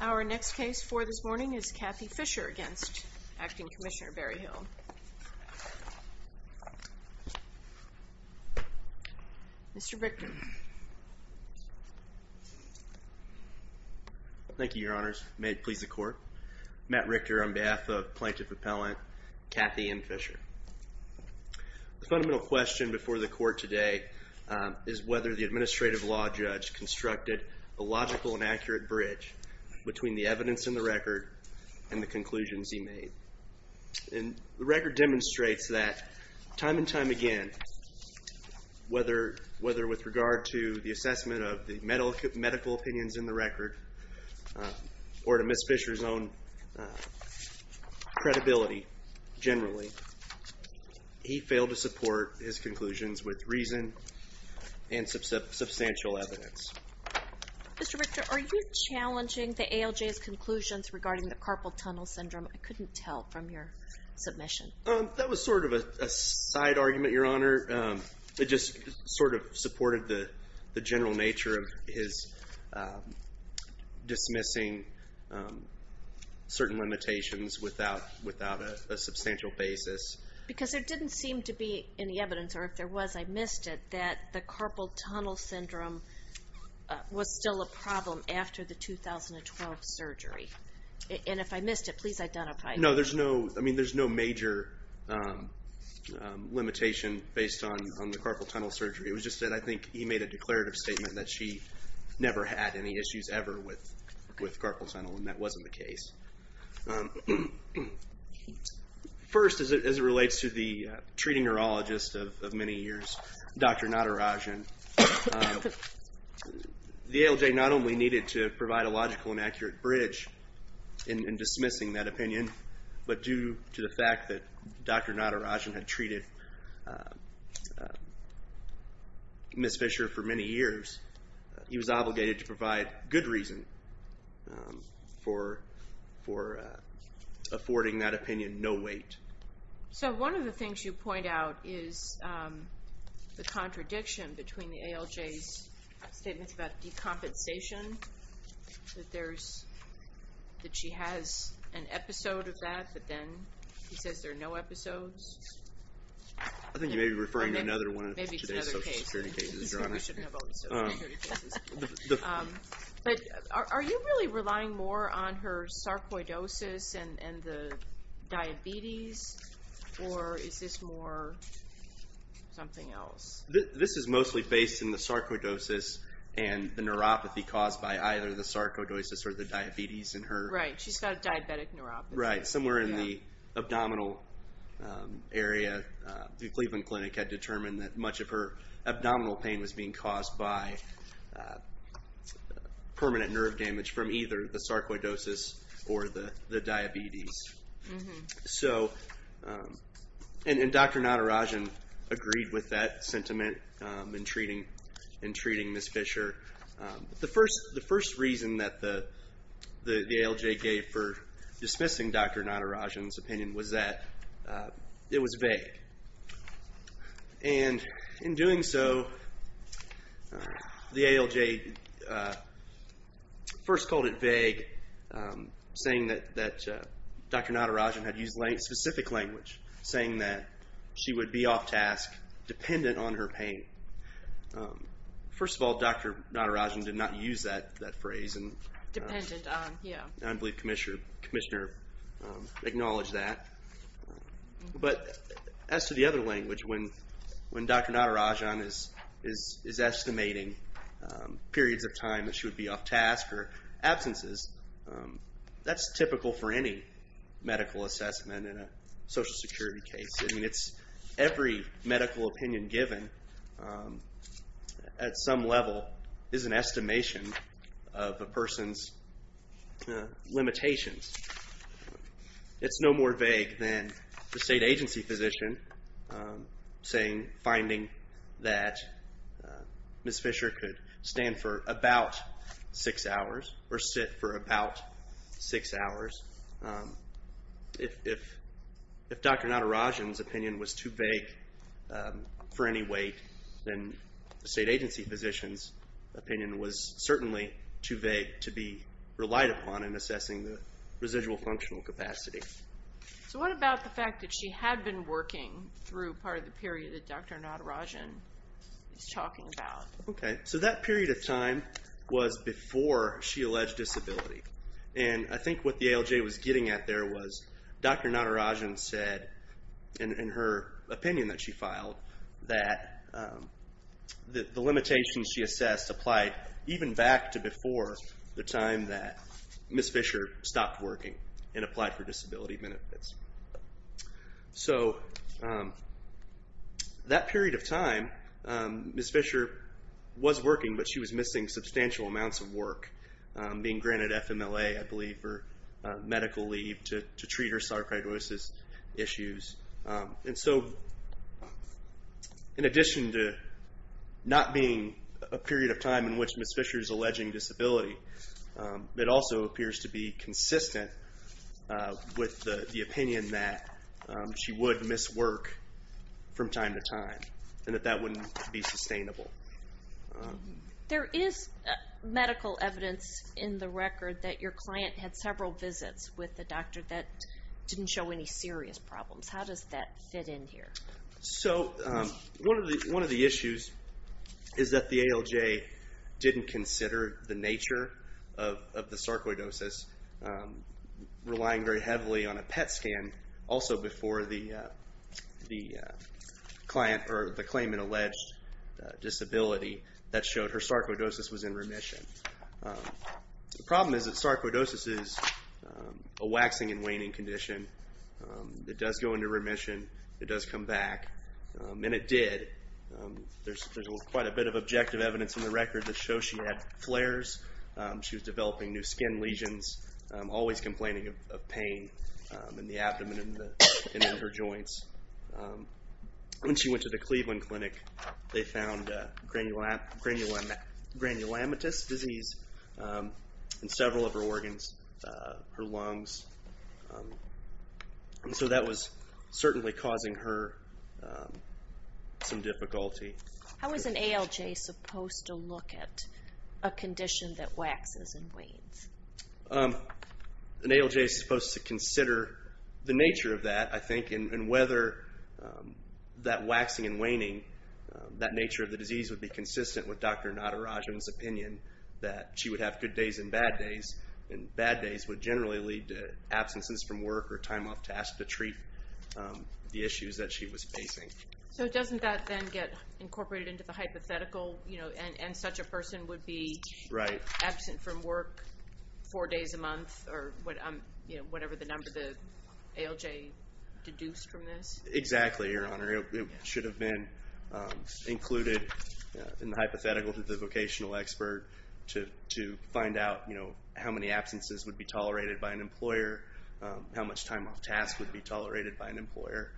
Our next case for this morning is Kathy Fisher against Acting Commissioner Berryhill. Mr. Richter. Thank you, Your Honors. May it please the Court. Matt Richter on behalf of Plaintiff Appellant Kathy M. Fisher. The fundamental question before the Court today is whether the Administrative Law Judge constructed a logical and accurate bridge between the evidence in the record and the conclusions he made. And the record demonstrates that time and time again, whether with regard to the assessment of the medical opinions in the record or to Ms. Fisher's own credibility generally, he failed to support his conclusions with reason and substantial evidence. Mr. Richter, are you challenging the ALJ's conclusions regarding the carpal tunnel syndrome? I couldn't tell from your submission. That was sort of a side argument, Your Honor. It just sort of supported the general nature of his dismissing certain limitations without a substantial basis. Because there didn't seem to be any evidence, or if there was, I missed it, that the carpal tunnel syndrome was still a problem after the 2012 surgery. And if I missed it, please identify it. No, there's no major limitation based on the carpal tunnel surgery. It was just that I think he made a declarative statement that she never had any issues ever with carpal tunnel, and that wasn't the case. First, as it relates to the treating neurologist of many years, Dr. Natarajan, the ALJ not only needed to provide a logical and accurate bridge in dismissing that opinion, but due to the fact that Dr. Natarajan had treated Ms. Fisher for many years, he was obligated to provide good reason for affording that opinion no weight. So one of the things you point out is the contradiction between the ALJ's statements about decompensation, that she has an episode of that, but then he says there are no episodes. I think you may be referring to another one of today's social security cases, Joanna. But are you really relying more on her sarcoidosis and the diabetes, or is this more something else? This is mostly based in the sarcoidosis and the neuropathy caused by either the sarcoidosis or the diabetes in her. Right, she's got a diabetic neuropathy. Right, somewhere in the abdominal area, the Cleveland Clinic had determined that much of her abdominal pain was being caused by permanent nerve damage from either the sarcoidosis or the diabetes. And Dr. Natarajan agreed with that sentiment in treating Ms. Fisher. The first reason that the ALJ gave for dismissing Dr. Natarajan's opinion was that it was vague. And in doing so, the ALJ first called it vague, saying that Dr. Natarajan had used specific language, saying that she would be off-task, dependent on her pain. First of all, Dr. Natarajan did not use that phrase. Dependent on, yeah. And I believe Commissioner acknowledged that. But as to the other language, when Dr. Natarajan is estimating periods of time that she would be off-task or absences, that's typical for any medical assessment in a social security case. I mean, it's every medical opinion given at some level is an estimation of a person's limitations. It's no more vague than the state agency physician saying, finding that Ms. Fisher could stand for about six hours or sit for about six hours. If Dr. Natarajan's opinion was too vague for any weight, then the state agency physician's opinion was certainly too vague to be relied upon in assessing the residual functional capacity. So what about the fact that she had been working through part of the period that Dr. Natarajan is talking about? Okay. So that period of time was before she alleged disability. And I think what the ALJ was getting at there was Dr. Natarajan said in her opinion that she filed that the limitations she assessed applied even back to before the time that Ms. Fisher stopped working and applied for disability benefits. So that period of time, Ms. Fisher was working, but she was missing substantial amounts of work, being granted FMLA, I believe, for medical leave to treat her sarcoidosis issues. And so in addition to not being a period of time in which Ms. Fisher is alleging disability, it also appears to be consistent with the opinion that she would miss work from time to time and that that wouldn't be sustainable. There is medical evidence in the record that your client had several visits with a doctor that didn't show any serious problems. How does that fit in here? So one of the issues is that the ALJ didn't consider the nature of the sarcoidosis, relying very heavily on a PET scan also before the claimant alleged disability that showed her sarcoidosis was in remission. The problem is that sarcoidosis is a waxing and waning condition. It does go into remission. It does come back, and it did. There's quite a bit of objective evidence in the record that shows she had flares. She was developing new skin lesions, always complaining of pain in the abdomen and in her joints. When she went to the Cleveland Clinic, they found granulomatous disease in several of her organs, her lungs. And so that was certainly causing her some difficulty. How is an ALJ supposed to look at a condition that waxes and wanes? An ALJ is supposed to consider the nature of that, I think, and whether that waxing and waning, that nature of the disease would be consistent with Dr. Natarajan's opinion that she would have good days and bad days, and bad days would generally lead to absences from work or time off task to treat the issues that she was facing. So doesn't that then get incorporated into the hypothetical, and such a person would be absent from work four days a month or whatever the number the ALJ deduced from this? Exactly, Your Honor. It should have been included in the hypothetical to the vocational expert to find out how many absences would be tolerated by an employer, how much time off task would be tolerated by an employer.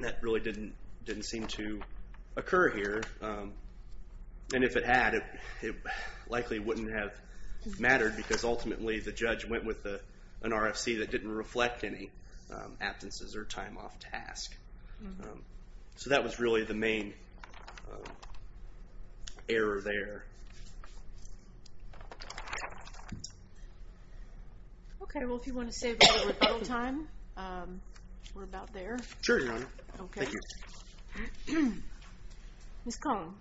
That really didn't seem to occur here. And if it had, it likely wouldn't have mattered, because ultimately the judge went with an RFC that didn't reflect any absences or time off task. So that was really the main error there. Okay. Well, if you want to save a little time, we're about there. Sure, Your Honor. Okay. Thank you. Ms. Cohen. Thank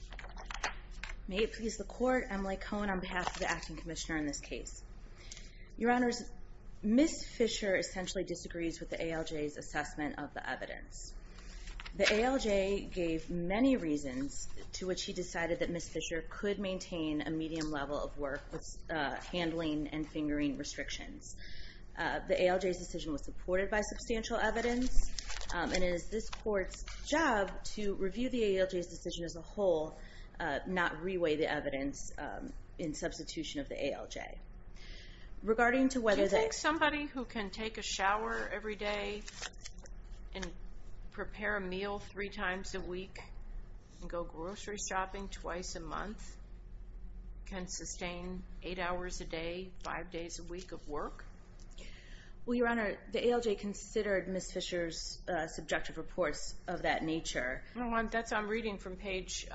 you. May it please the Court, Emily Cohen on behalf of the Acting Commissioner in this case. Your Honors, Ms. Fisher essentially disagrees with the ALJ's assessment of the evidence. The ALJ gave many reasons to which she decided that Ms. Fisher could maintain a medium level of work with handling and fingering restrictions. The ALJ's decision was supported by substantial evidence, and it is this Court's job to review the ALJ's decision as a whole, not reweigh the evidence in substitution of the ALJ. Do you think somebody who can take a shower every day and prepare a meal three times a week and go grocery shopping twice a month can sustain eight hours a day, five days a week of work? Well, Your Honor, the ALJ considered Ms. Fisher's subjective reports of that nature. That's what I'm reading from page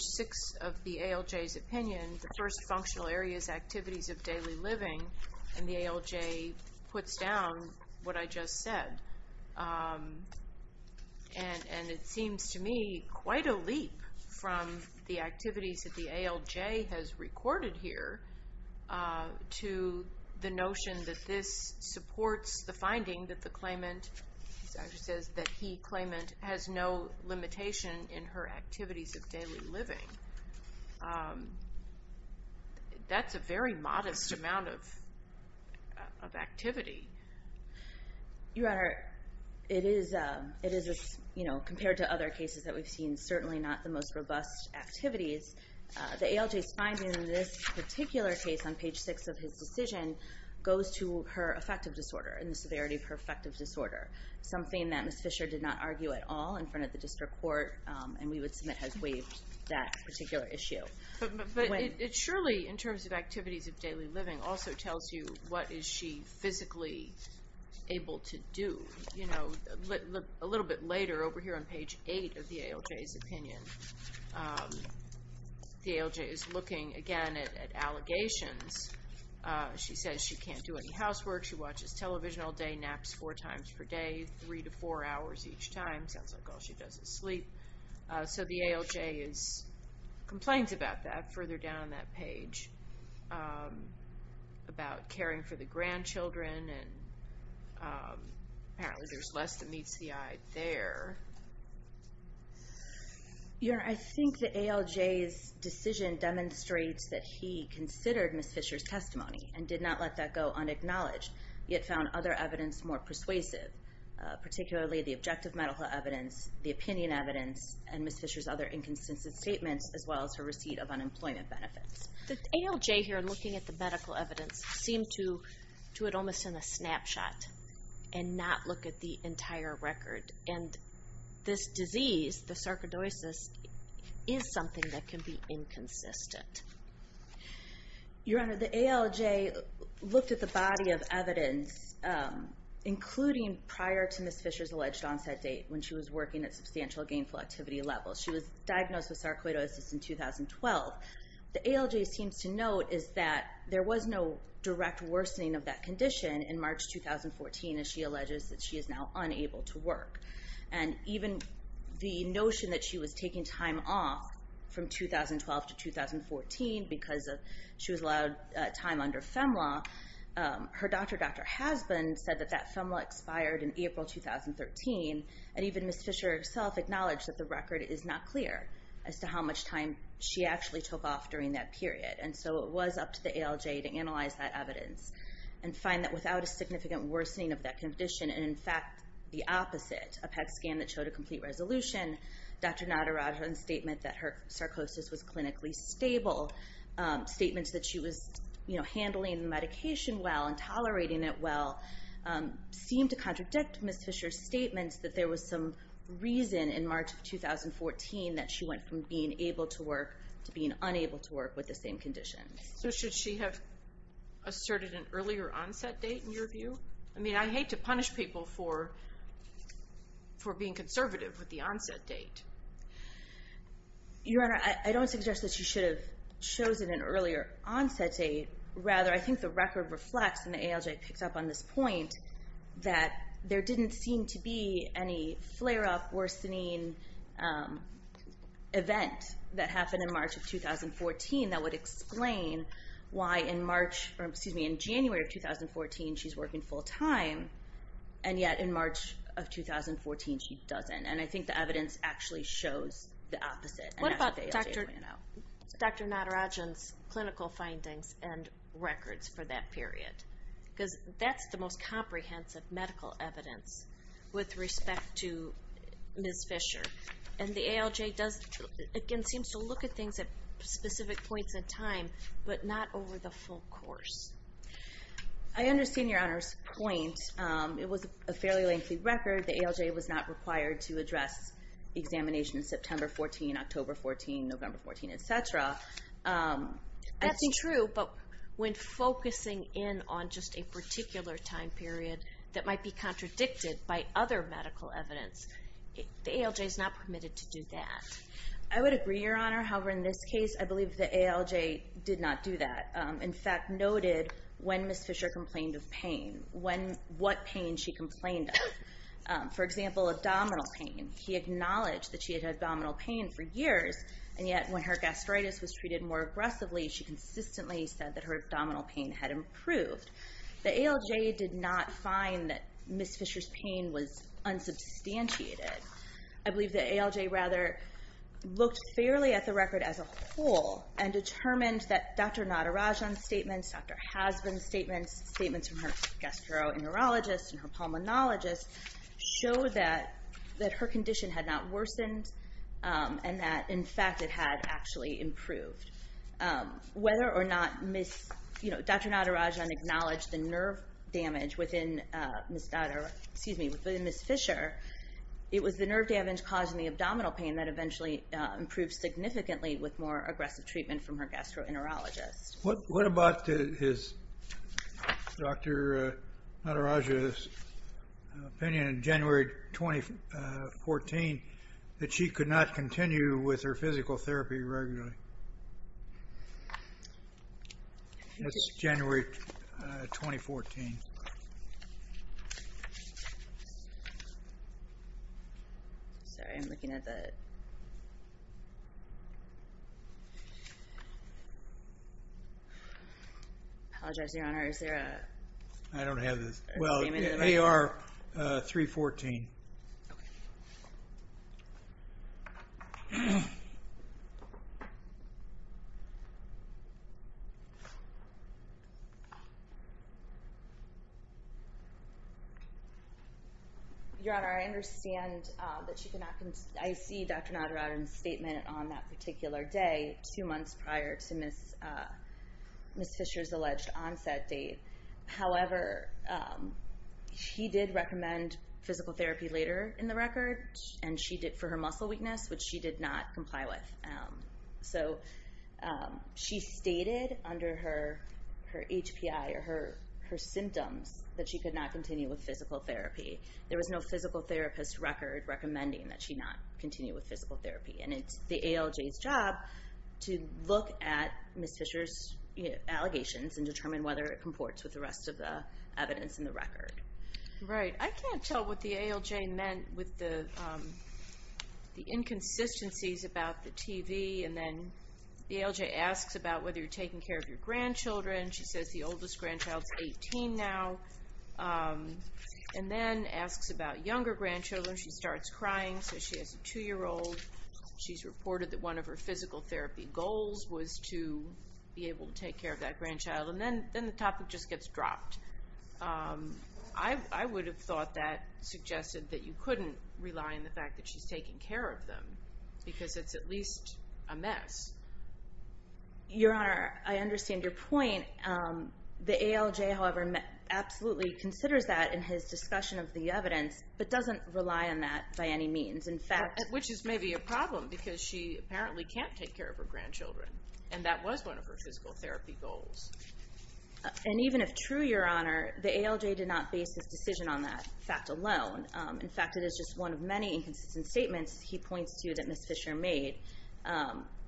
six of the ALJ's opinion. The first functional area is activities of daily living, and the ALJ puts down what I just said. And it seems to me quite a leap from the activities that the ALJ has recorded here to the notion that this supports the finding that the claimant, as she says, that he claimant has no limitation in her activities of daily living. That's a very modest amount of activity. Your Honor, it is, compared to other cases that we've seen, certainly not the most robust activities. The ALJ's finding in this particular case on page six of his decision goes to her affective disorder and the severity of her affective disorder, something that Ms. Fisher did not argue at all in front of the district court, and we would submit has waived that particular issue. But it surely, in terms of activities of daily living, also tells you what is she physically able to do. A little bit later, over here on page eight of the ALJ's opinion, the ALJ is looking again at allegations. She says she can't do any housework, she watches television all day, naps four times per day, three to four hours each time. Sounds like all she does is sleep. So the ALJ complains about that further down that page, about caring for the grandchildren, and apparently there's less that meets the eye there. Your Honor, I think the ALJ's decision demonstrates that he considered Ms. Fisher's testimony and did not let that go unacknowledged, yet found other evidence more persuasive, particularly the objective medical evidence, the opinion evidence, and Ms. Fisher's other inconsistent statements, as well as her receipt of unemployment benefits. The ALJ here, looking at the medical evidence, seemed to do it almost in a snapshot and not look at the entire record. And this disease, the sarcoidosis, is something that can be inconsistent. Your Honor, the ALJ looked at the body of evidence, including prior to Ms. Fisher's alleged onset date when she was working at substantial gainful activity levels. She was diagnosed with sarcoidosis in 2012. The ALJ seems to note is that there was no direct worsening of that condition in March 2014, as she alleges that she is now unable to work. And even the notion that she was taking time off from 2012 to 2014 because she was allowed time under FEMLA, her doctor doctor husband said that that FEMLA expired in April 2013, and even Ms. Fisher herself acknowledged that the record is not clear as to how much time she actually took off during that period. And find that without a significant worsening of that condition, and in fact the opposite, a PET scan that showed a complete resolution, Dr. Naderadhan's statement that her sarcosis was clinically stable, statements that she was handling the medication well and tolerating it well, seem to contradict Ms. Fisher's statements that there was some reason in March 2014 that she went from being able to work to being unable to work with the same conditions. So should she have asserted an earlier onset date, in your view? I mean, I hate to punish people for being conservative with the onset date. Your Honor, I don't suggest that she should have chosen an earlier onset date. Rather, I think the record reflects, and the ALJ picks up on this point, that there didn't seem to be any flare-up, worsening event that happened in March 2014 that would explain why in January of 2014 she's working full-time, and yet in March of 2014 she doesn't. And I think the evidence actually shows the opposite. What about Dr. Naderadhan's clinical findings and records for that period? Because that's the most comprehensive medical evidence with respect to Ms. Fisher. And the ALJ, again, seems to look at things at specific points in time, but not over the full course. I understand Your Honor's point. It was a fairly lengthy record. The ALJ was not required to address examinations September 14, October 14, November 14, etc. That's true, but when focusing in on just a particular time period that might be contradicted by other medical evidence, the ALJ is not permitted to do that. I would agree, Your Honor. However, in this case, I believe the ALJ did not do that. In fact, noted when Ms. Fisher complained of pain, what pain she complained of. For example, abdominal pain. He acknowledged that she had had abdominal pain for years, and yet when her gastritis was treated more aggressively, she consistently said that her abdominal pain had improved. The ALJ did not find that Ms. Fisher's pain was unsubstantiated. I believe the ALJ rather looked fairly at the record as a whole and determined that Dr. Nadarajan's statements, Dr. Hasbin's statements, statements from her gastroenterologist and her pulmonologist, showed that her condition had not worsened and that, in fact, it had actually improved. Whether or not Dr. Nadarajan acknowledged the nerve damage within Ms. Fisher, it was the nerve damage causing the abdominal pain that eventually improved significantly with more aggressive treatment from her gastroenterologist. What about Dr. Nadarajan's opinion in January 2014 that she could not continue with her physical therapy regularly? That's January 2014. Sorry, I'm looking at that. I apologize, Your Honor. Is there a statement? AR 314. Your Honor, I understand that she could not continue. I see Dr. Nadarajan's statement on that particular day two months prior to Ms. Fisher's alleged onset date. However, she did recommend physical therapy later in the record for her muscle weakness, which she did not comply with. She stated under her HPI or her symptoms that she could not continue with physical therapy. There was no physical therapist record recommending that she not continue with physical therapy. It's the ALJ's job to look at Ms. Fisher's allegations and determine whether it comports with the rest of the evidence in the record. Right. I can't tell what the ALJ meant with the inconsistencies about the TV and then the ALJ asks about whether you're taking care of your grandchildren. She says the oldest grandchild is 18 now and then asks about younger grandchildren. She starts crying, so she has a two-year-old. She's reported that one of her physical therapy goals was to be able to take care of that grandchild, and then the topic just gets dropped. I would have thought that suggested that you couldn't rely on the fact that she's taking care of them because it's at least a mess. Your Honor, I understand your point. The ALJ, however, absolutely considers that in his discussion of the evidence but doesn't rely on that by any means. Which is maybe a problem because she apparently can't take care of her grandchildren and that was one of her physical therapy goals. And even if true, Your Honor, the ALJ did not base his decision on that fact alone. In fact, it is just one of many inconsistent statements he points to that Ms. Fisher made.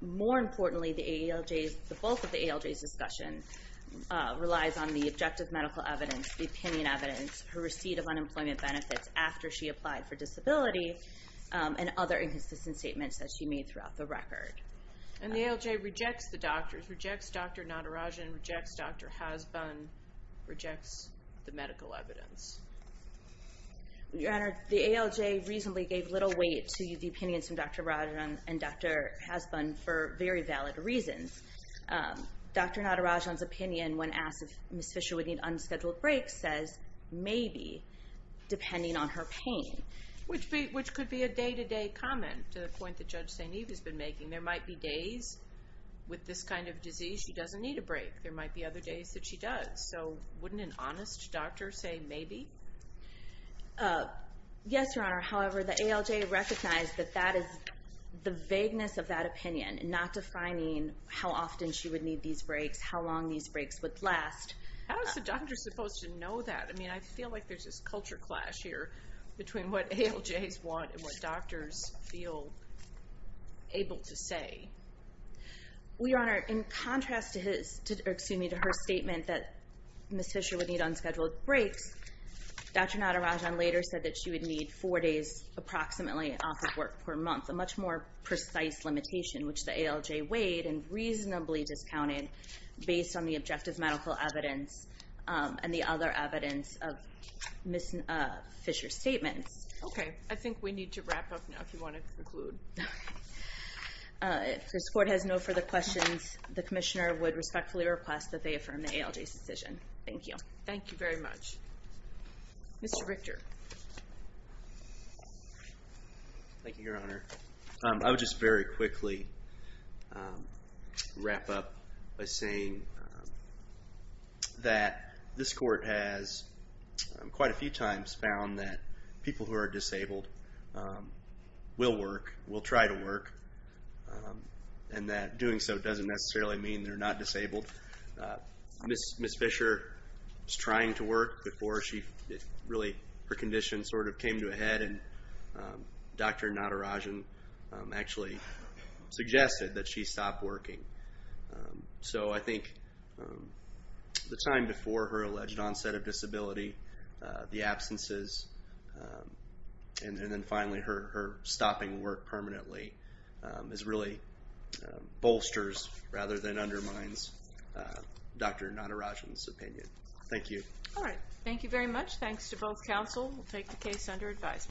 More importantly, the bulk of the ALJ's discussion relies on the objective medical evidence, the opinion evidence, her receipt of unemployment benefits after she applied for disability, and other inconsistent statements that she made throughout the record. And the ALJ rejects the doctors, rejects Dr. Natarajan, rejects Dr. Hasbun, rejects the medical evidence. Your Honor, the ALJ reasonably gave little weight to the opinions of Dr. Natarajan and Dr. Hasbun for very valid reasons. Dr. Natarajan's opinion when asked if Ms. Fisher would need unscheduled breaks says, maybe, depending on her pain. Which could be a day-to-day comment to the point that Judge St. Eve has been making. There might be days with this kind of disease she doesn't need a break. There might be other days that she does. So wouldn't an honest doctor say maybe? Yes, Your Honor, however, the ALJ recognized that that is the vagueness of that opinion and not defining how often she would need these breaks, how long these breaks would last. How is the doctor supposed to know that? I mean, I feel like there's this culture clash here between what ALJs want and what doctors feel able to say. Well, Your Honor, in contrast to her statement that Ms. Fisher would need unscheduled breaks, Dr. Natarajan later said that she would need four days approximately off of work per month, a much more precise limitation, which the ALJ weighed and reasonably discounted based on the objective medical evidence and the other evidence of Ms. Fisher's statements. Okay, I think we need to wrap up now if you want to conclude. If this Court has no further questions, the Commissioner would respectfully request that they affirm the ALJ's decision. Thank you. Thank you very much. Mr. Richter. Thank you, Your Honor. I would just very quickly wrap up by saying that this Court has quite a few times found that people who are disabled will work, will try to work, and that doing so doesn't necessarily mean they're not disabled. Ms. Fisher was trying to work before really her condition sort of came to a head, and Dr. Natarajan actually suggested that she stop working. So I think the time before her alleged onset of disability, the absences, and then finally her stopping work permanently really bolsters rather than undermines Dr. Natarajan's opinion. Thank you. All right. Thank you very much. Thanks to both counsel. We'll take the case under advisement.